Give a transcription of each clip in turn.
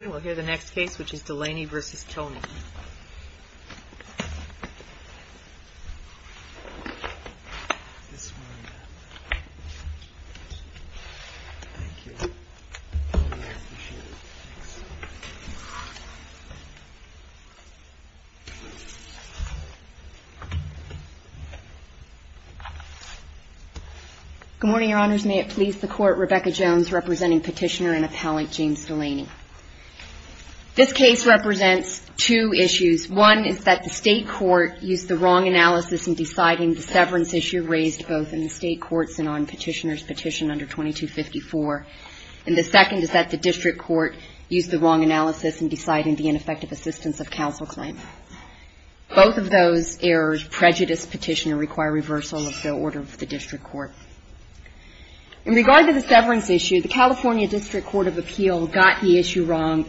We'll hear the next case, which is DULANEY v. TONEY. Good morning, Your Honors. May it please the Court, Rebecca Jones representing Petitioner and Appellant James Dulaney. This case represents two issues. One is that the state court used the wrong analysis in deciding the severance issue raised both in the state courts and on Petitioner's petition under 2254, and the second is that the district court used the wrong analysis in deciding the ineffective assistance of counsel claim. Both of those errors prejudice Petitioner require reversal of the order of the district court. In regard to the severance issue, the California District Court of Appeal got the issue wrong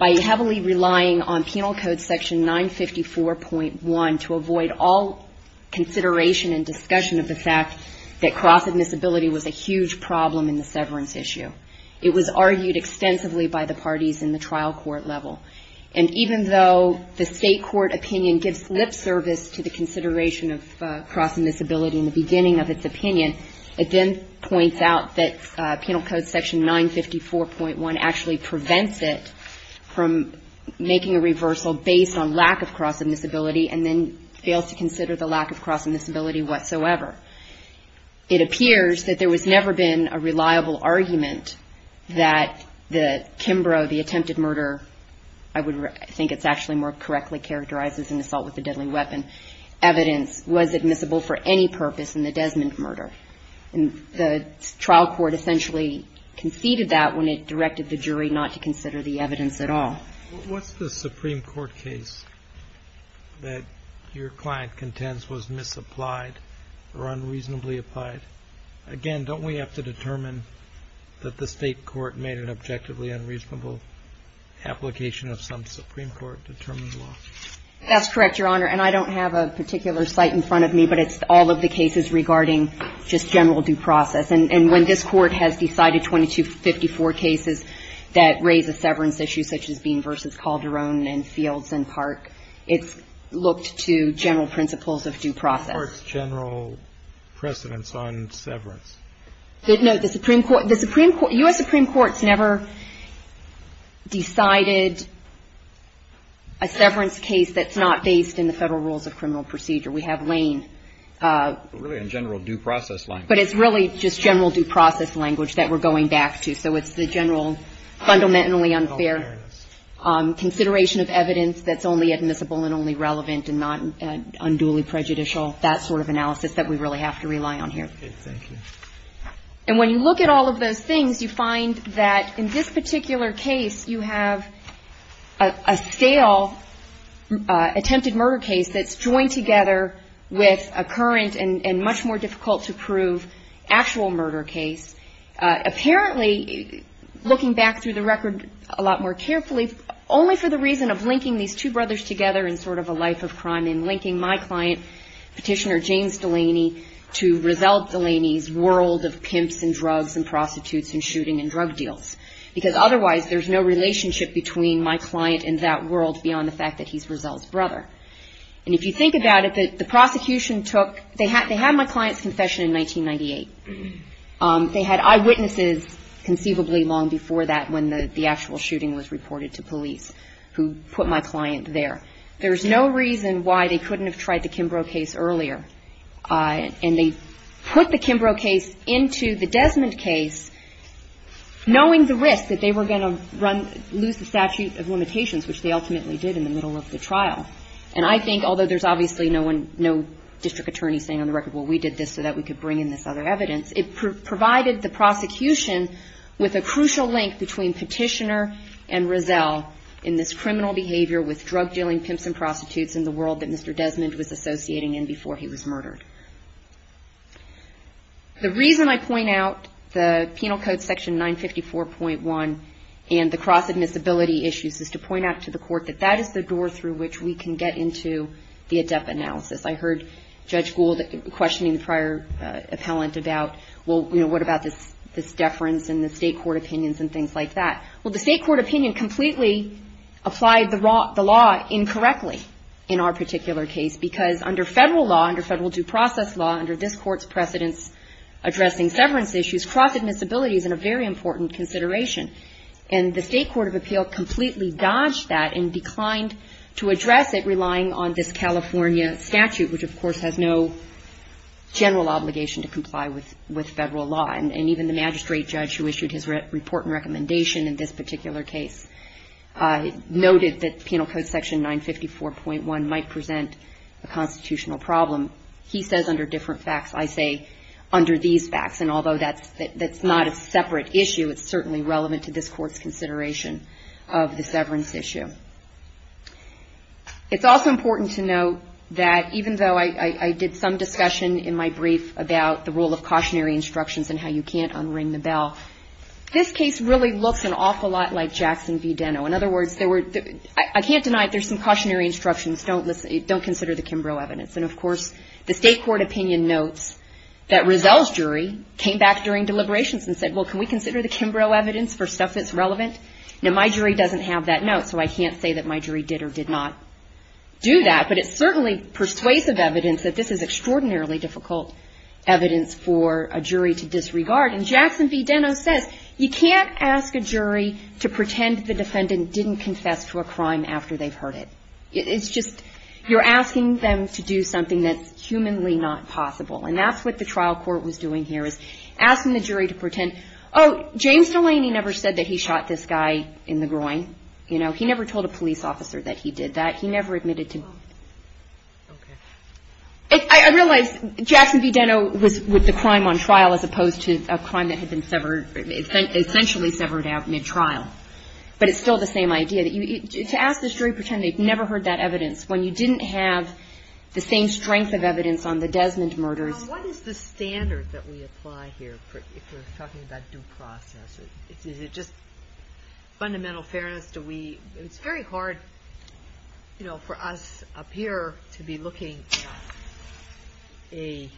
by heavily relying on Penal Code section 954.1 to avoid all consideration and discussion of the fact that cross-admissibility was a huge problem in the severance issue. It was argued extensively by the parties in the trial court level. And even though the state court opinion gives lip service to the consideration of cross-admissibility in the beginning of its opinion, it then points out that Penal Code section 954.1 actually prevents cross-admissibility in the severance issue. It prevents it from making a reversal based on lack of cross-admissibility and then fails to consider the lack of cross-admissibility whatsoever. It appears that there has never been a reliable argument that the Kimbrough, the attempted murder, I think it's actually more correctly characterized as an assault with a deadly weapon, evidence was admissible for any purpose in the Desmond murder. And the trial court essentially conceded that when it directed the jury not to consider the evidence at all. What's the Supreme Court case that your client contends was misapplied or unreasonably applied? Again, don't we have to determine that the state court made an objectively unreasonable application of some Supreme Court-determined law? That's correct, Your Honor. And I don't have a particular site in front of me, but it's all of the cases regarding just general due process. And when this Court has decided 2254 cases that raise a severance issue, such as Bean v. Calderon and Fields and Park, it's looked to general principles of due process. What's the Court's general precedence on severance? No, the Supreme Court, the Supreme Court, U.S. Supreme Court's never decided a severance case that's not based in the Federal Rules of Act. But it's really just general due process language that we're going back to. So it's the general fundamentally unfair consideration of evidence that's only admissible and only relevant and not unduly prejudicial, that sort of analysis that we really have to rely on here. And when you look at all of those things, you find that in this particular case, you have a stale attempted murder case that's joined together with a current and much more difficult to prove actual murder case. Apparently, looking back through the record a lot more carefully, only for the reason of linking these two brothers together in sort of a life of crime and linking my client, Petitioner James Delaney, to Rizal Delaney's world of pimps and drugs and prostitutes and shooting and drug deals. Because otherwise, there's no relationship between my client and that world beyond the fact that he's Rizal's brother. And if you think about it, the prosecution took they had my client's confession in 1998. They had eyewitnesses conceivably long before that when the actual shooting was reported to police, who put my client there. There's no reason why they couldn't have tried the Kimbrough case earlier. And they put the Kimbrough case into the Desmond case, knowing the risk that they were going to lose the statute of limitations, which they ultimately did in the middle of the trial. And I think, although there's obviously no district attorney saying on the record, well, we did this so that we could bring in this other evidence, it provided the prosecution with a crucial link between Petitioner and Rizal in this criminal behavior with drug dealing pimps and prostitutes in the world that Mr. Desmond was associating in before he was murdered. The reason I point out the Penal Code section 954.1 and the cross-admissibility issues is to point out to the court that that is the door through which we can get into the ADEPA analysis. I heard Judge Gould questioning the prior appellant about, well, you know, what about this deference in the state court opinions and things like that. Well, the state court opinion completely applied the law incorrectly in our particular case, because under federal law, under federal due process law, under this court's precedence addressing severance issues, cross-admissibility is a very important consideration. And the state court of appeal completely dodged that and declined to address it, relying on this California statute, which, of course, has no general obligation to comply with federal law. And even the magistrate judge who issued his report and recommendation in this particular case noted that Penal Code section 954.1 might present a constitutional problem. He says under different facts. I say under these facts. And although that's not a separate issue, it's certainly relevant to this court's consideration of the severance issue. It's also important to note that even though I did some discussion in my brief about the role of cautionary instructions and how you can't unring the bell, this case really looks an awful lot like Jackson v. Deno. In other words, I can't deny there's some cautionary instructions. Don't consider the Kimbrough evidence. And, of course, the state court opinion notes that Rizal's jury came back during deliberations and said, well, can we consider the Kimbrough evidence for stuff that's relevant? Now, my jury doesn't have that note, so I can't say that my jury did or did not do that. But it's certainly persuasive evidence that this is extraordinarily difficult evidence for a jury to disregard. And Jackson v. Deno says you can't ask a jury to pretend the defendant didn't confess to a crime after they've heard it. It's just you're asking them to do something that's humanly not possible. And that's what the trial court was doing here is asking the jury to pretend, oh, James Delaney never said that he shot this guy in the groin. You know, he never told a police officer that he did that. He never admitted to it. I realize Jackson v. Deno was with the crime on trial as opposed to a crime that had been severed, essentially severed out mid-trial. But it's still the same idea. To ask the jury to pretend they've never heard that evidence when you didn't have the same strength of evidence on the Desmond murders. What is the standard that we apply here if we're talking about due process? Is it just fundamental fairness? It's very hard for us up here to be looking at a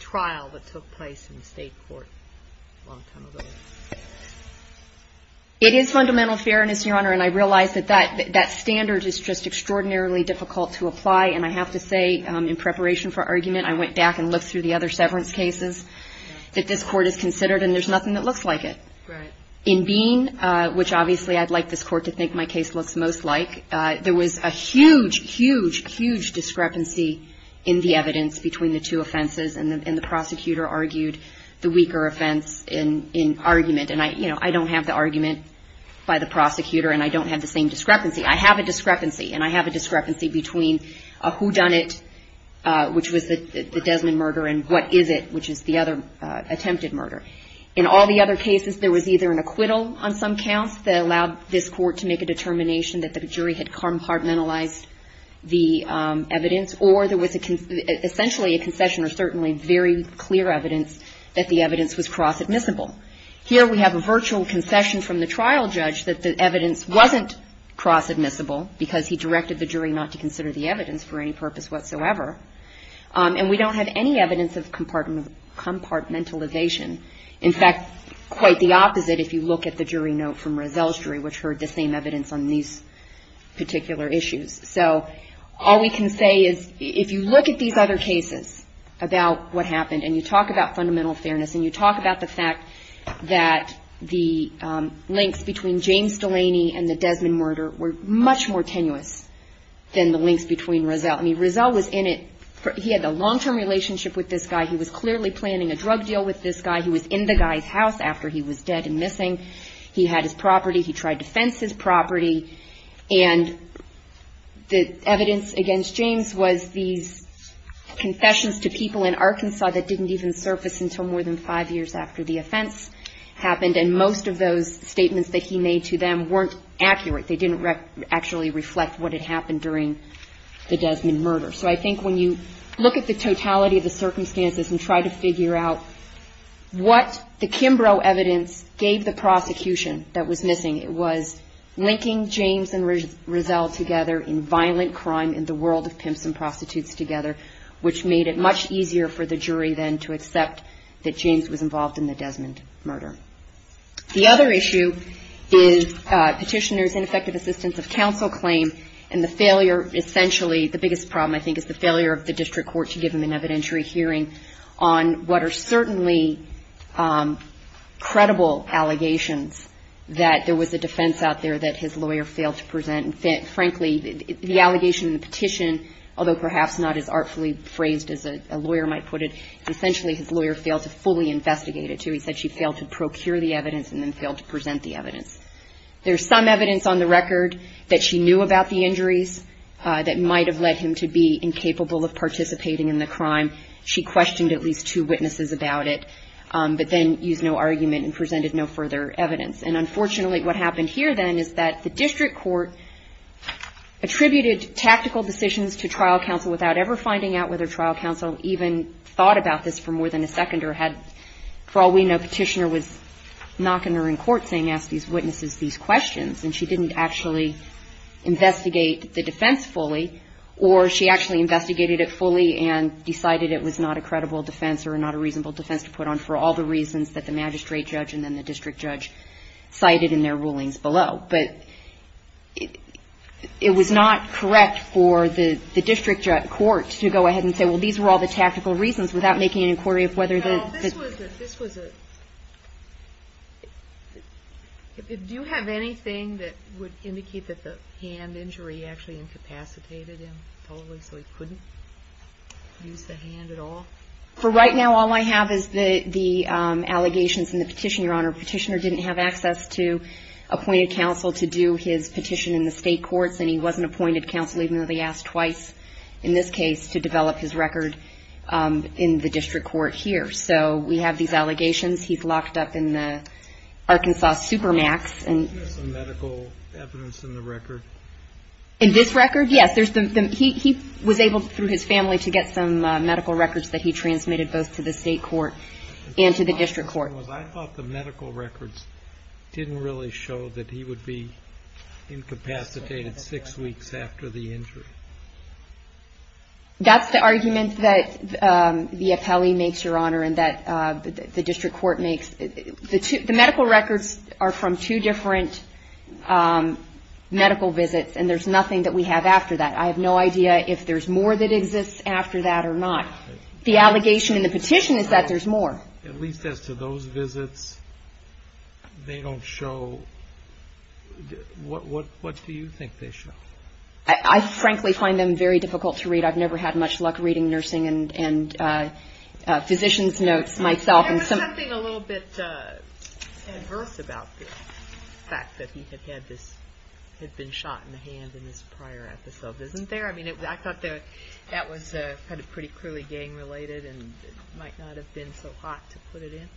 trial that took place in the state court a long time ago. It is fundamental fairness, Your Honor, and I realize that that standard is just extraordinarily difficult to apply. And I have to say, in preparation for argument, I went back and looked through the other severance cases that this court has considered and there's nothing that looks like it. In Bean, which obviously I'd like this court to think my case looks most like, there was a huge, huge, huge discrepancy in the evidence between the two offenses. And the prosecutor argued the weaker offense in argument. I have a discrepancy and I have a discrepancy between a whodunit, which was the Desmond murder, and what is it, which is the other attempted murder. In all the other cases, there was either an acquittal on some counts that allowed this court to make a determination that the jury had compartmentalized the evidence, or there was essentially a concession or certainly very clear evidence that the evidence was cross-admissible. Here we have a virtual concession from the trial judge that the evidence wasn't cross-admissible, because he directed the jury not to consider the evidence for any purpose whatsoever, and we don't have any evidence of compartmentalization. In fact, quite the opposite if you look at the jury note from Rozelle's jury, which heard the same evidence on these particular issues. So all we can say is if you look at these other cases about what happened and you talk about fundamental fairness and you talk about the fact that the links between James Delaney and the Desmond murder were much more tenuous than the links between Rozelle. I mean, Rozelle was in it, he had a long-term relationship with this guy, he was clearly planning a drug deal with this guy, he was in the guy's house after he was dead and missing, he had his property, he tried to fence his property, and the evidence against James was these cross-admissible evidence, and most of those statements that he made to them weren't accurate, they didn't actually reflect what had happened during the Desmond murder. So I think when you look at the totality of the circumstances and try to figure out what the Kimbrough evidence gave the prosecution that was missing, it was linking James and Rozelle together in violent crime in the world of pimps and prostitutes together, which made it much easier for the jury then to accept that James was involved in the Desmond murder. The other issue is petitioner's ineffective assistance of counsel claim and the failure, essentially, the biggest problem I think is the failure of the district court to give him an evidentiary hearing on what are certainly credible allegations that there was a defense out there that his lawyer failed to present, and frankly, the allegation in the petition, although perhaps not as artfully phrased as a lawyer might put it, essentially, his lawyer failed to fully investigate it, too. He said she failed to procure the evidence and then failed to present the evidence. There's some evidence on the record that she knew about the injuries that might have led him to be incapable of participating in the crime. She questioned at least two witnesses about it, but then used no argument and presented no further evidence. And unfortunately, what happened here then is that the district court attributed tactical decisions to trial counsel without ever finding out whether trial counsel even thought about this for more than a second or had, for all we know, petitioner was knocking her in court saying, ask these witnesses these questions, and she didn't actually investigate the defense fully, or she actually investigated it fully and decided it was not a credible defense or not a reasonable defense to put on for all the reasons that the magistrate judge and then the district judge cited in their rulings below. But it was not correct for the district court to go ahead and say, well, these were all the tactical reasons without making an inquiry of whether the ---- Do you have anything that would indicate that the hand injury actually incapacitated him totally so he couldn't use the hand at all? For right now, all I have is the allegations in the petition, Your Honor. Petitioner didn't have access to appointed counsel to do his petition in the state courts, and he wasn't appointed counsel even though they asked twice in this case to develop his record in the district court here. So we have these allegations. He's locked up in the Arkansas supermax. In this record, yes, he was able through his family to get some medical records that he transmitted both to the state court and to the district court. I thought the medical records didn't really show that he would be incapacitated six weeks after the injury. That's the argument that the appellee makes, Your Honor, and that the district court makes. The medical records are from two different medical visits. And there's nothing that we have after that. I have no idea if there's more that exists after that or not. The allegation in the petition is that there's more. At least as to those visits, they don't show ---- What do you think they show? I frankly find them very difficult to read. I've never had much luck reading nursing and physician's notes myself. There was something a little bit adverse about the fact that he had been shot in the hand in this prior episode, isn't there? I mean, I thought that was kind of pretty cruelly gang-related and it might not have been so hot to put it in.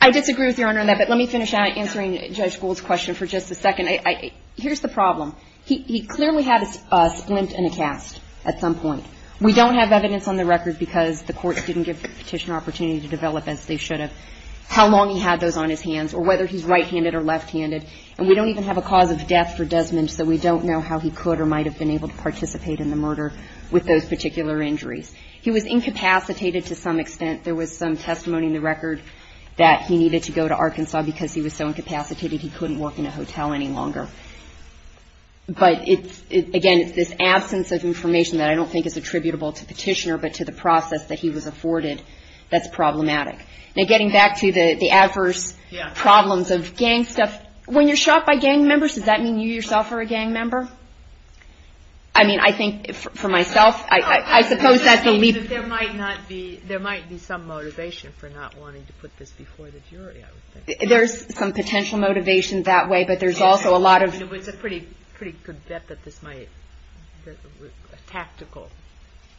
I disagree with Your Honor on that, but let me finish answering Judge Gould's question for just a second. Here's the problem. He clearly had a splint and a cast at some point. We don't have evidence on the record because the court didn't give the petitioner opportunity to develop as they should have, how long he had those on his hands, or whether he's right-handed or left-handed. And we don't even have a cause of death for Desmond, so we don't know how he could or might have been able to participate in the murder with those particular injuries. He was incapacitated to some extent. There was some testimony in the record that he needed to go to Arkansas because he was so incapacitated he couldn't work in a hotel any longer. But again, it's this absence of information that I don't think is attributable to the petitioner, but to the process that he was afforded that's problematic. Now, getting back to the adverse problems of gang stuff, when you're shot by gang members, does that mean you yourself are a gang member? I mean, I think for myself, I suppose that's a leap. There's some motivation for not wanting to put this before the jury, I would think. There's some potential motivation that way, but there's also a lot of... I mean, it's a pretty good bet that this might, a tactical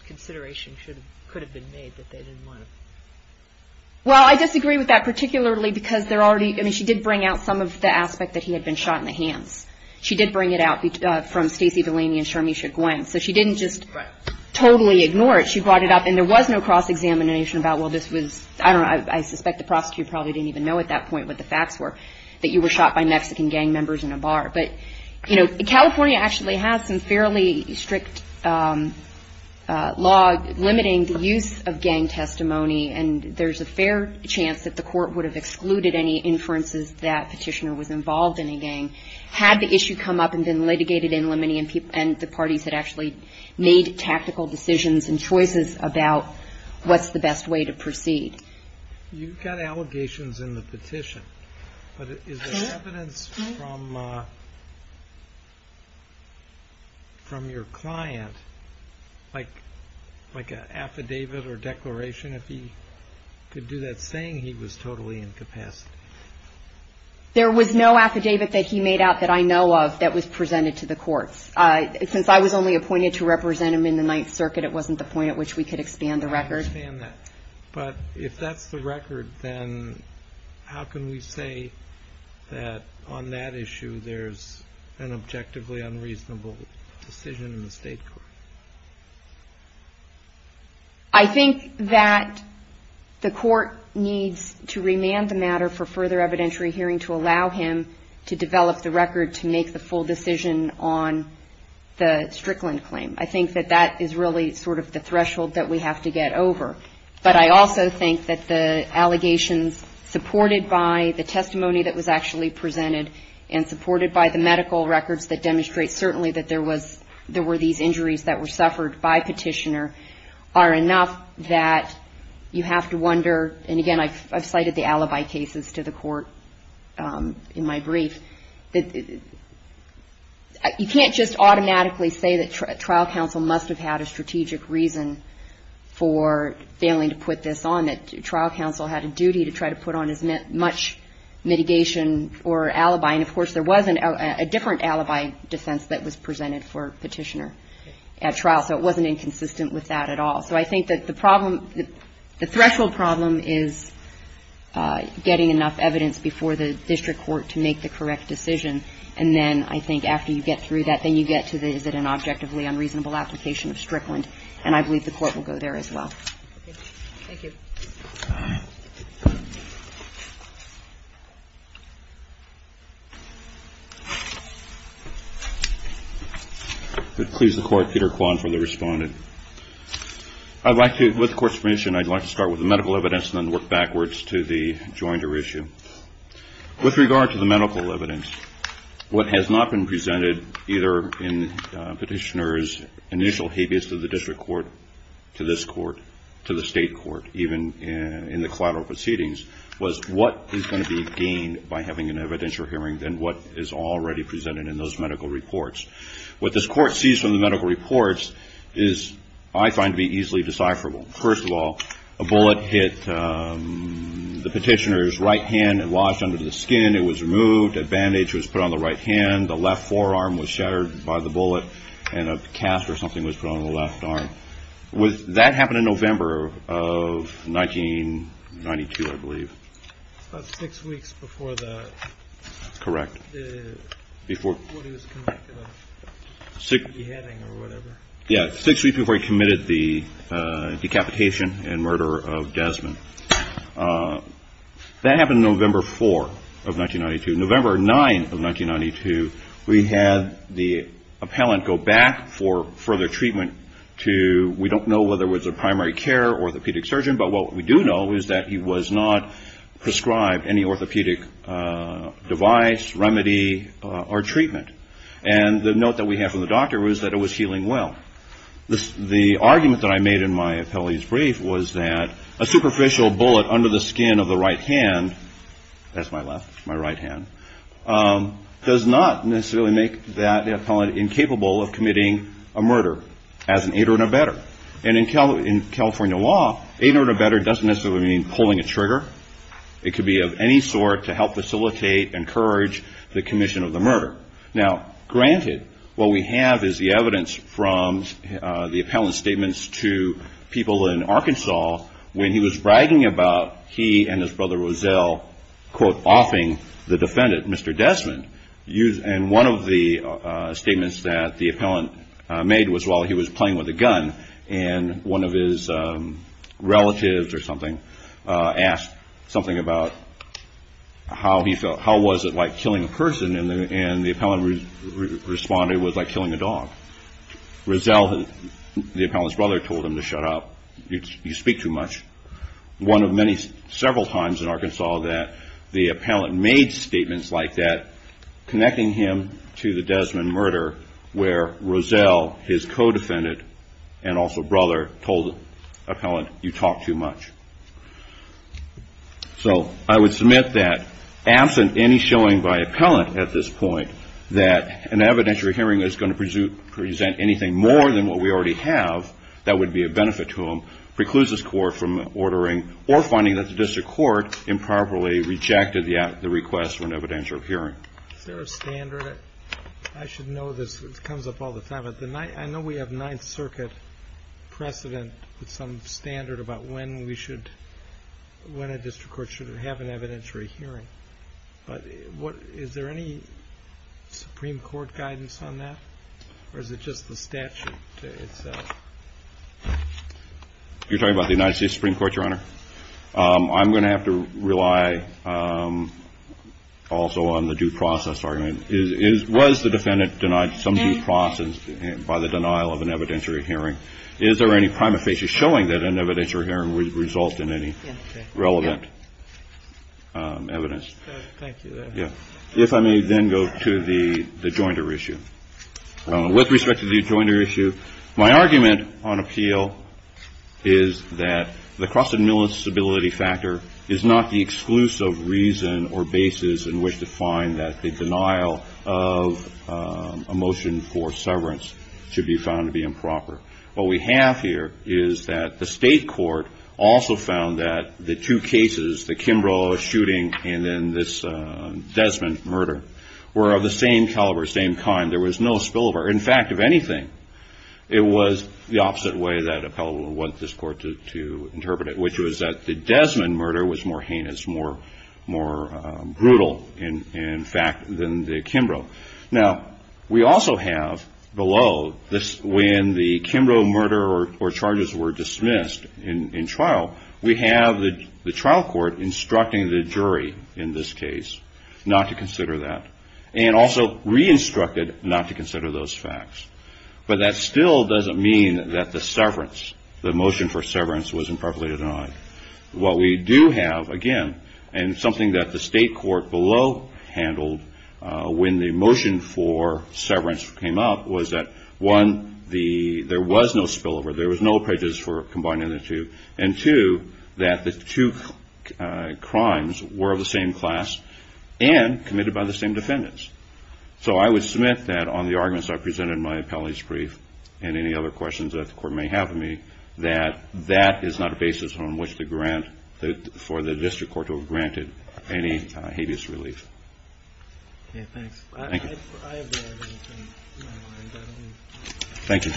consideration could have been made that they didn't want to... Well, I disagree with that, particularly because there already, I mean, she did bring out some of the aspect that he had been shot in the hands. She did bring it out from Stacey Villani and Sharmisha Gwinn. So she didn't just totally ignore it, she brought it up, and there was no cross-examination about, well, this was... I don't know, I suspect the prosecutor probably didn't even know at that point what the facts were, that you were shot by Mexican gang members in a bar. But California actually has some fairly strict law limiting the use of gang testimony, and there's a fair chance that the court would have excluded any inferences that petitioner was involved in a gang had the issue come up and been litigated in limine and the parties that actually made tactical decisions and choices about what's the best way to proceed. You've got allegations in the petition, but is there evidence from your client, like an affidavit or declaration, if he could do that, saying he was totally incapacitated? There was no affidavit that he made out that I know of that was presented to the courts. Since I was only appointed to represent him in the Ninth Circuit, it wasn't the point at which we could expand the record. I understand that, but if that's the record, then how can we say that on that issue there's an objectively unreasonable decision in the state court? I think that the court needs to remand the matter for further consideration. I think that the court needs to remand the matter for further evidence to allow him to develop the record to make the full decision on the Strickland claim. I think that that is really sort of the threshold that we have to get over. But I also think that the allegations supported by the testimony that was actually presented and supported by the medical records that demonstrate certainly that there were these injuries that were suffered by petitioner are enough that you have to wonder, and again, I've cited the alibi cases to the court in my brief, you can't just automatically say that trial counsel must have had a strategic reason for failing to put this on, that trial counsel had a duty to try to put on as much mitigation or alibi. And of course, there was a different alibi defense that was presented for petitioner at trial. So it wasn't inconsistent with that at all. So I think that the problem, the threshold problem is getting enough evidence before the district court to make the correct decision. And then I think after you get through that, then you get to the is it an objectively unreasonable application of Strickland. And I believe the court will go there as well. Okay. Thank you. Please, the court, Peter Kwan for the respondent. I'd like to, with the court's permission, I'd like to start with the medical evidence and then work backwards to the jointer issue. With regard to the medical evidence, what has not been presented either in petitioner's initial habeas to the district court, to this court, to the state court, even in the collateral proceedings, was what is going to be gained by having an evidentiary hearing than what is already presented in those medical reports. What this court sees from the medical reports is I find to be easily decipherable. First of all, a bullet hit the petitioner's right hand and lodged under the skin. It was removed. A bandage was put on the right hand. The left forearm was shattered by the bullet and a cast or something was put on the left arm. That happened in November of 1992, I believe. About six weeks before that. Correct. Yeah, six weeks before he committed the decapitation and murder of Desmond. That happened November 4 of 1992. November 9 of 1992, we had the appellant go back for further treatment to, we don't know whether it was a primary care orthopedic surgeon, but what we do know is that he was not prescribed any orthopedic device, remedy, or treatment. And the note that we have from the doctor was that it was healing well. The argument that I made in my appellee's brief was that a superficial bullet under the skin of the right hand, that's my left, my right hand, does not necessarily make that appellant incapable of committing a murder as an aider and abetter. And in California law, aider and abetter doesn't necessarily mean pulling a trigger. It could be of any sort to help facilitate, encourage the commission of the murder. Now, granted, what we have is the evidence from the appellant's statements to people in Arkansas when he was bragging about he and his brother Rozell, quote, offing the defendant, Mr. Desmond. And one of the statements that the appellant made was while he was playing with a gun and one of his relatives or something asked something about how he felt, he said it was like killing a person and the appellant responded it was like killing a dog. Rozell, the appellant's brother, told him to shut up, you speak too much. One of many several times in Arkansas that the appellant made statements like that connecting him to the Desmond murder where Rozell, his co-defendant, and also brother, told the appellant you talk too much. So I would submit that absent any showing by appellant at this point that an evidentiary hearing is going to present anything more than what we already have, that would be a benefit to them, precludes this court from ordering or finding that the district court improperly rejected the request for an evidentiary hearing. Is there a standard? I should know this. It comes up all the time. I know we have Ninth Circuit precedent with some standard about when a district court should have an evidentiary hearing, but is there any Supreme Court guidance on that or is it just the statute? You're talking about the United States Supreme Court, Your Honor? I'm going to have to rely also on the due process argument. Was the defendant denied some due process by the denial of an evidentiary hearing? Is there any prima facie showing that an evidentiary hearing would result in any relevant evidence? Thank you, Your Honor. If I may then go to the jointer issue. With respect to the jointer issue, my argument on appeal is that the cross-admissibility factor is not the exclusive reason or basis in which to find that the denial of a motion for severance should be found to be improper. What we have here is that the state court also found that the two cases, the Kimbrough shooting and then this Desmond murder, were of the same caliber, same kind. In fact, if anything, it was the opposite way that appellate wanted this court to interpret it, which was that the Desmond murder was more heinous, more brutal in fact, than the Kimbrough. Now, we also have below when the Kimbrough murder or charges were dismissed in trial, we have the trial court instructing the jury in this case not to consider that and also re-instructed not to consider those facts. But that still doesn't mean that the motion for severance was improperly denied. What we do have, again, and something that the state court below handled when the motion for severance came up was that, one, there was no spillover, there was no prejudice for combining the two, and two, that the two crimes were of the same class and committed by the same defendants. So I would submit that on the arguments I presented in my appellate's brief and any other questions that the court may have of me, that that is not a basis on which for the district court to have granted any habeas relief. Thank you. Thank you.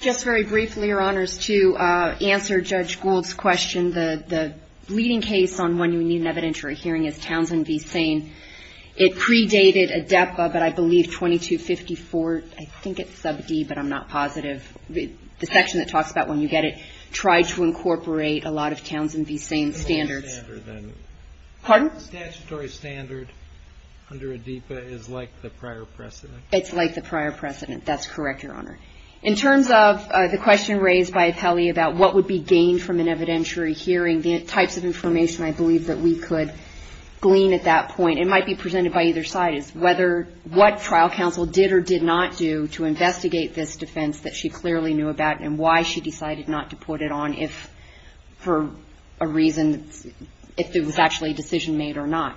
Just very briefly, Your Honors, to answer Judge Gould's question, the leading case on when you need an evidentiary hearing is Townsend v. Sain. It predated ADEPA, but I believe 2254, I think it's sub D, but I'm not positive, the section that talks about when you get it, tried to incorporate a lot of Townsend v. Sain standards. Statutory standard under ADEPA is like the prior precedent. It's like the prior precedent. That's correct, Your Honor. In terms of the question raised by Appelli about what would be gained from an evidentiary hearing, the types of information I believe that we could glean at that point, and it might be presented by either side, is what trial counsel did or did not do to investigate this defense that she clearly knew about and why she decided not to put it on for a reason, if it was actually a decision made or not.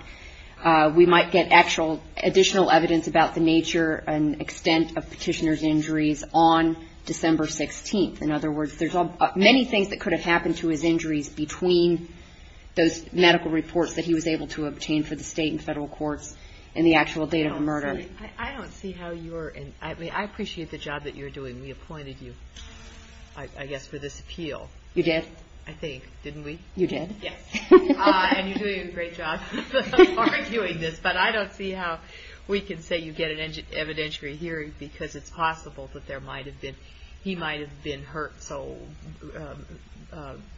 We might get actual additional evidence about the nature and extent of petitioner's injuries on December 16th. In other words, there's many things that could have happened to his injuries between those medical reports that he was able to obtain for the state and federal courts and the actual date of the murder. I appreciate the job that you're doing. We appointed you, I guess, for this appeal. You did? I think, didn't we? You did? Yes, and you're doing a great job arguing this, but I don't see how we can say you get an evidentiary hearing because it's possible that he might have been hurt so,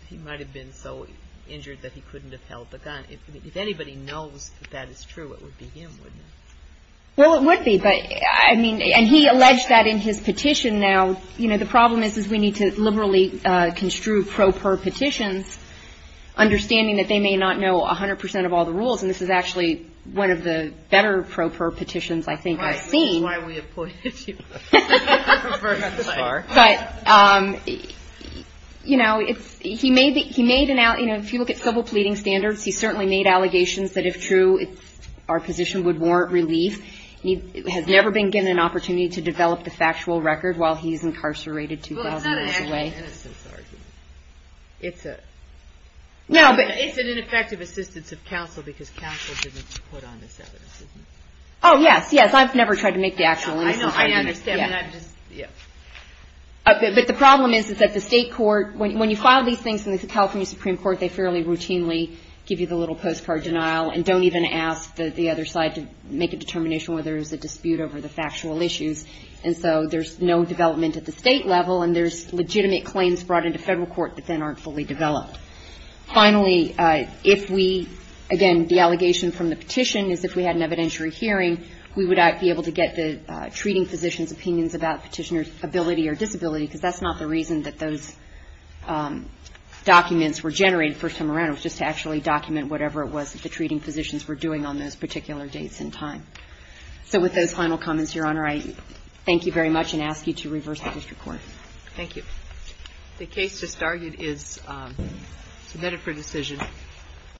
he might have been so injured that he couldn't have held the gun. If anybody knows that that is true, it would be him, wouldn't it? Well, it would be, and he alleged that in his petition now. The problem is we need to liberally construe pro per petitions, understanding that they may not know 100% of all the rules, and this is actually one of the better pro per petitions I think I've seen. Right, this is why we appointed you. If you look at civil pleading standards, he certainly made allegations that if true, our position would warrant relief. He has never been given an opportunity to develop the factual record while he's incarcerated 2,000 years away. It's an ineffective assistance of counsel because counsel doesn't put on this evidence, isn't it? Oh yes, yes, I've never tried to make the actual innocence argument. But the problem is that the state court, when you file these things in the California Supreme Court, they fairly routinely give you the little postcard denial and don't even ask the other side to make a determination whether there's a dispute over the factual issues. And so there's no development at the state level, and there's legitimate claims brought into federal court that then aren't fully developed. Finally, if we, again, the allegation from the petition is if we had an evidentiary hearing, we would be able to get the treating physician's opinions about petitioner's ability or disability, because that's not the reason that those documents were generated the first time around. It was just to actually document whatever it was that the treating physicians were doing on those particular dates and time. So with those final comments, Your Honor, I thank you very much and ask you to reverse the district court. Thank you.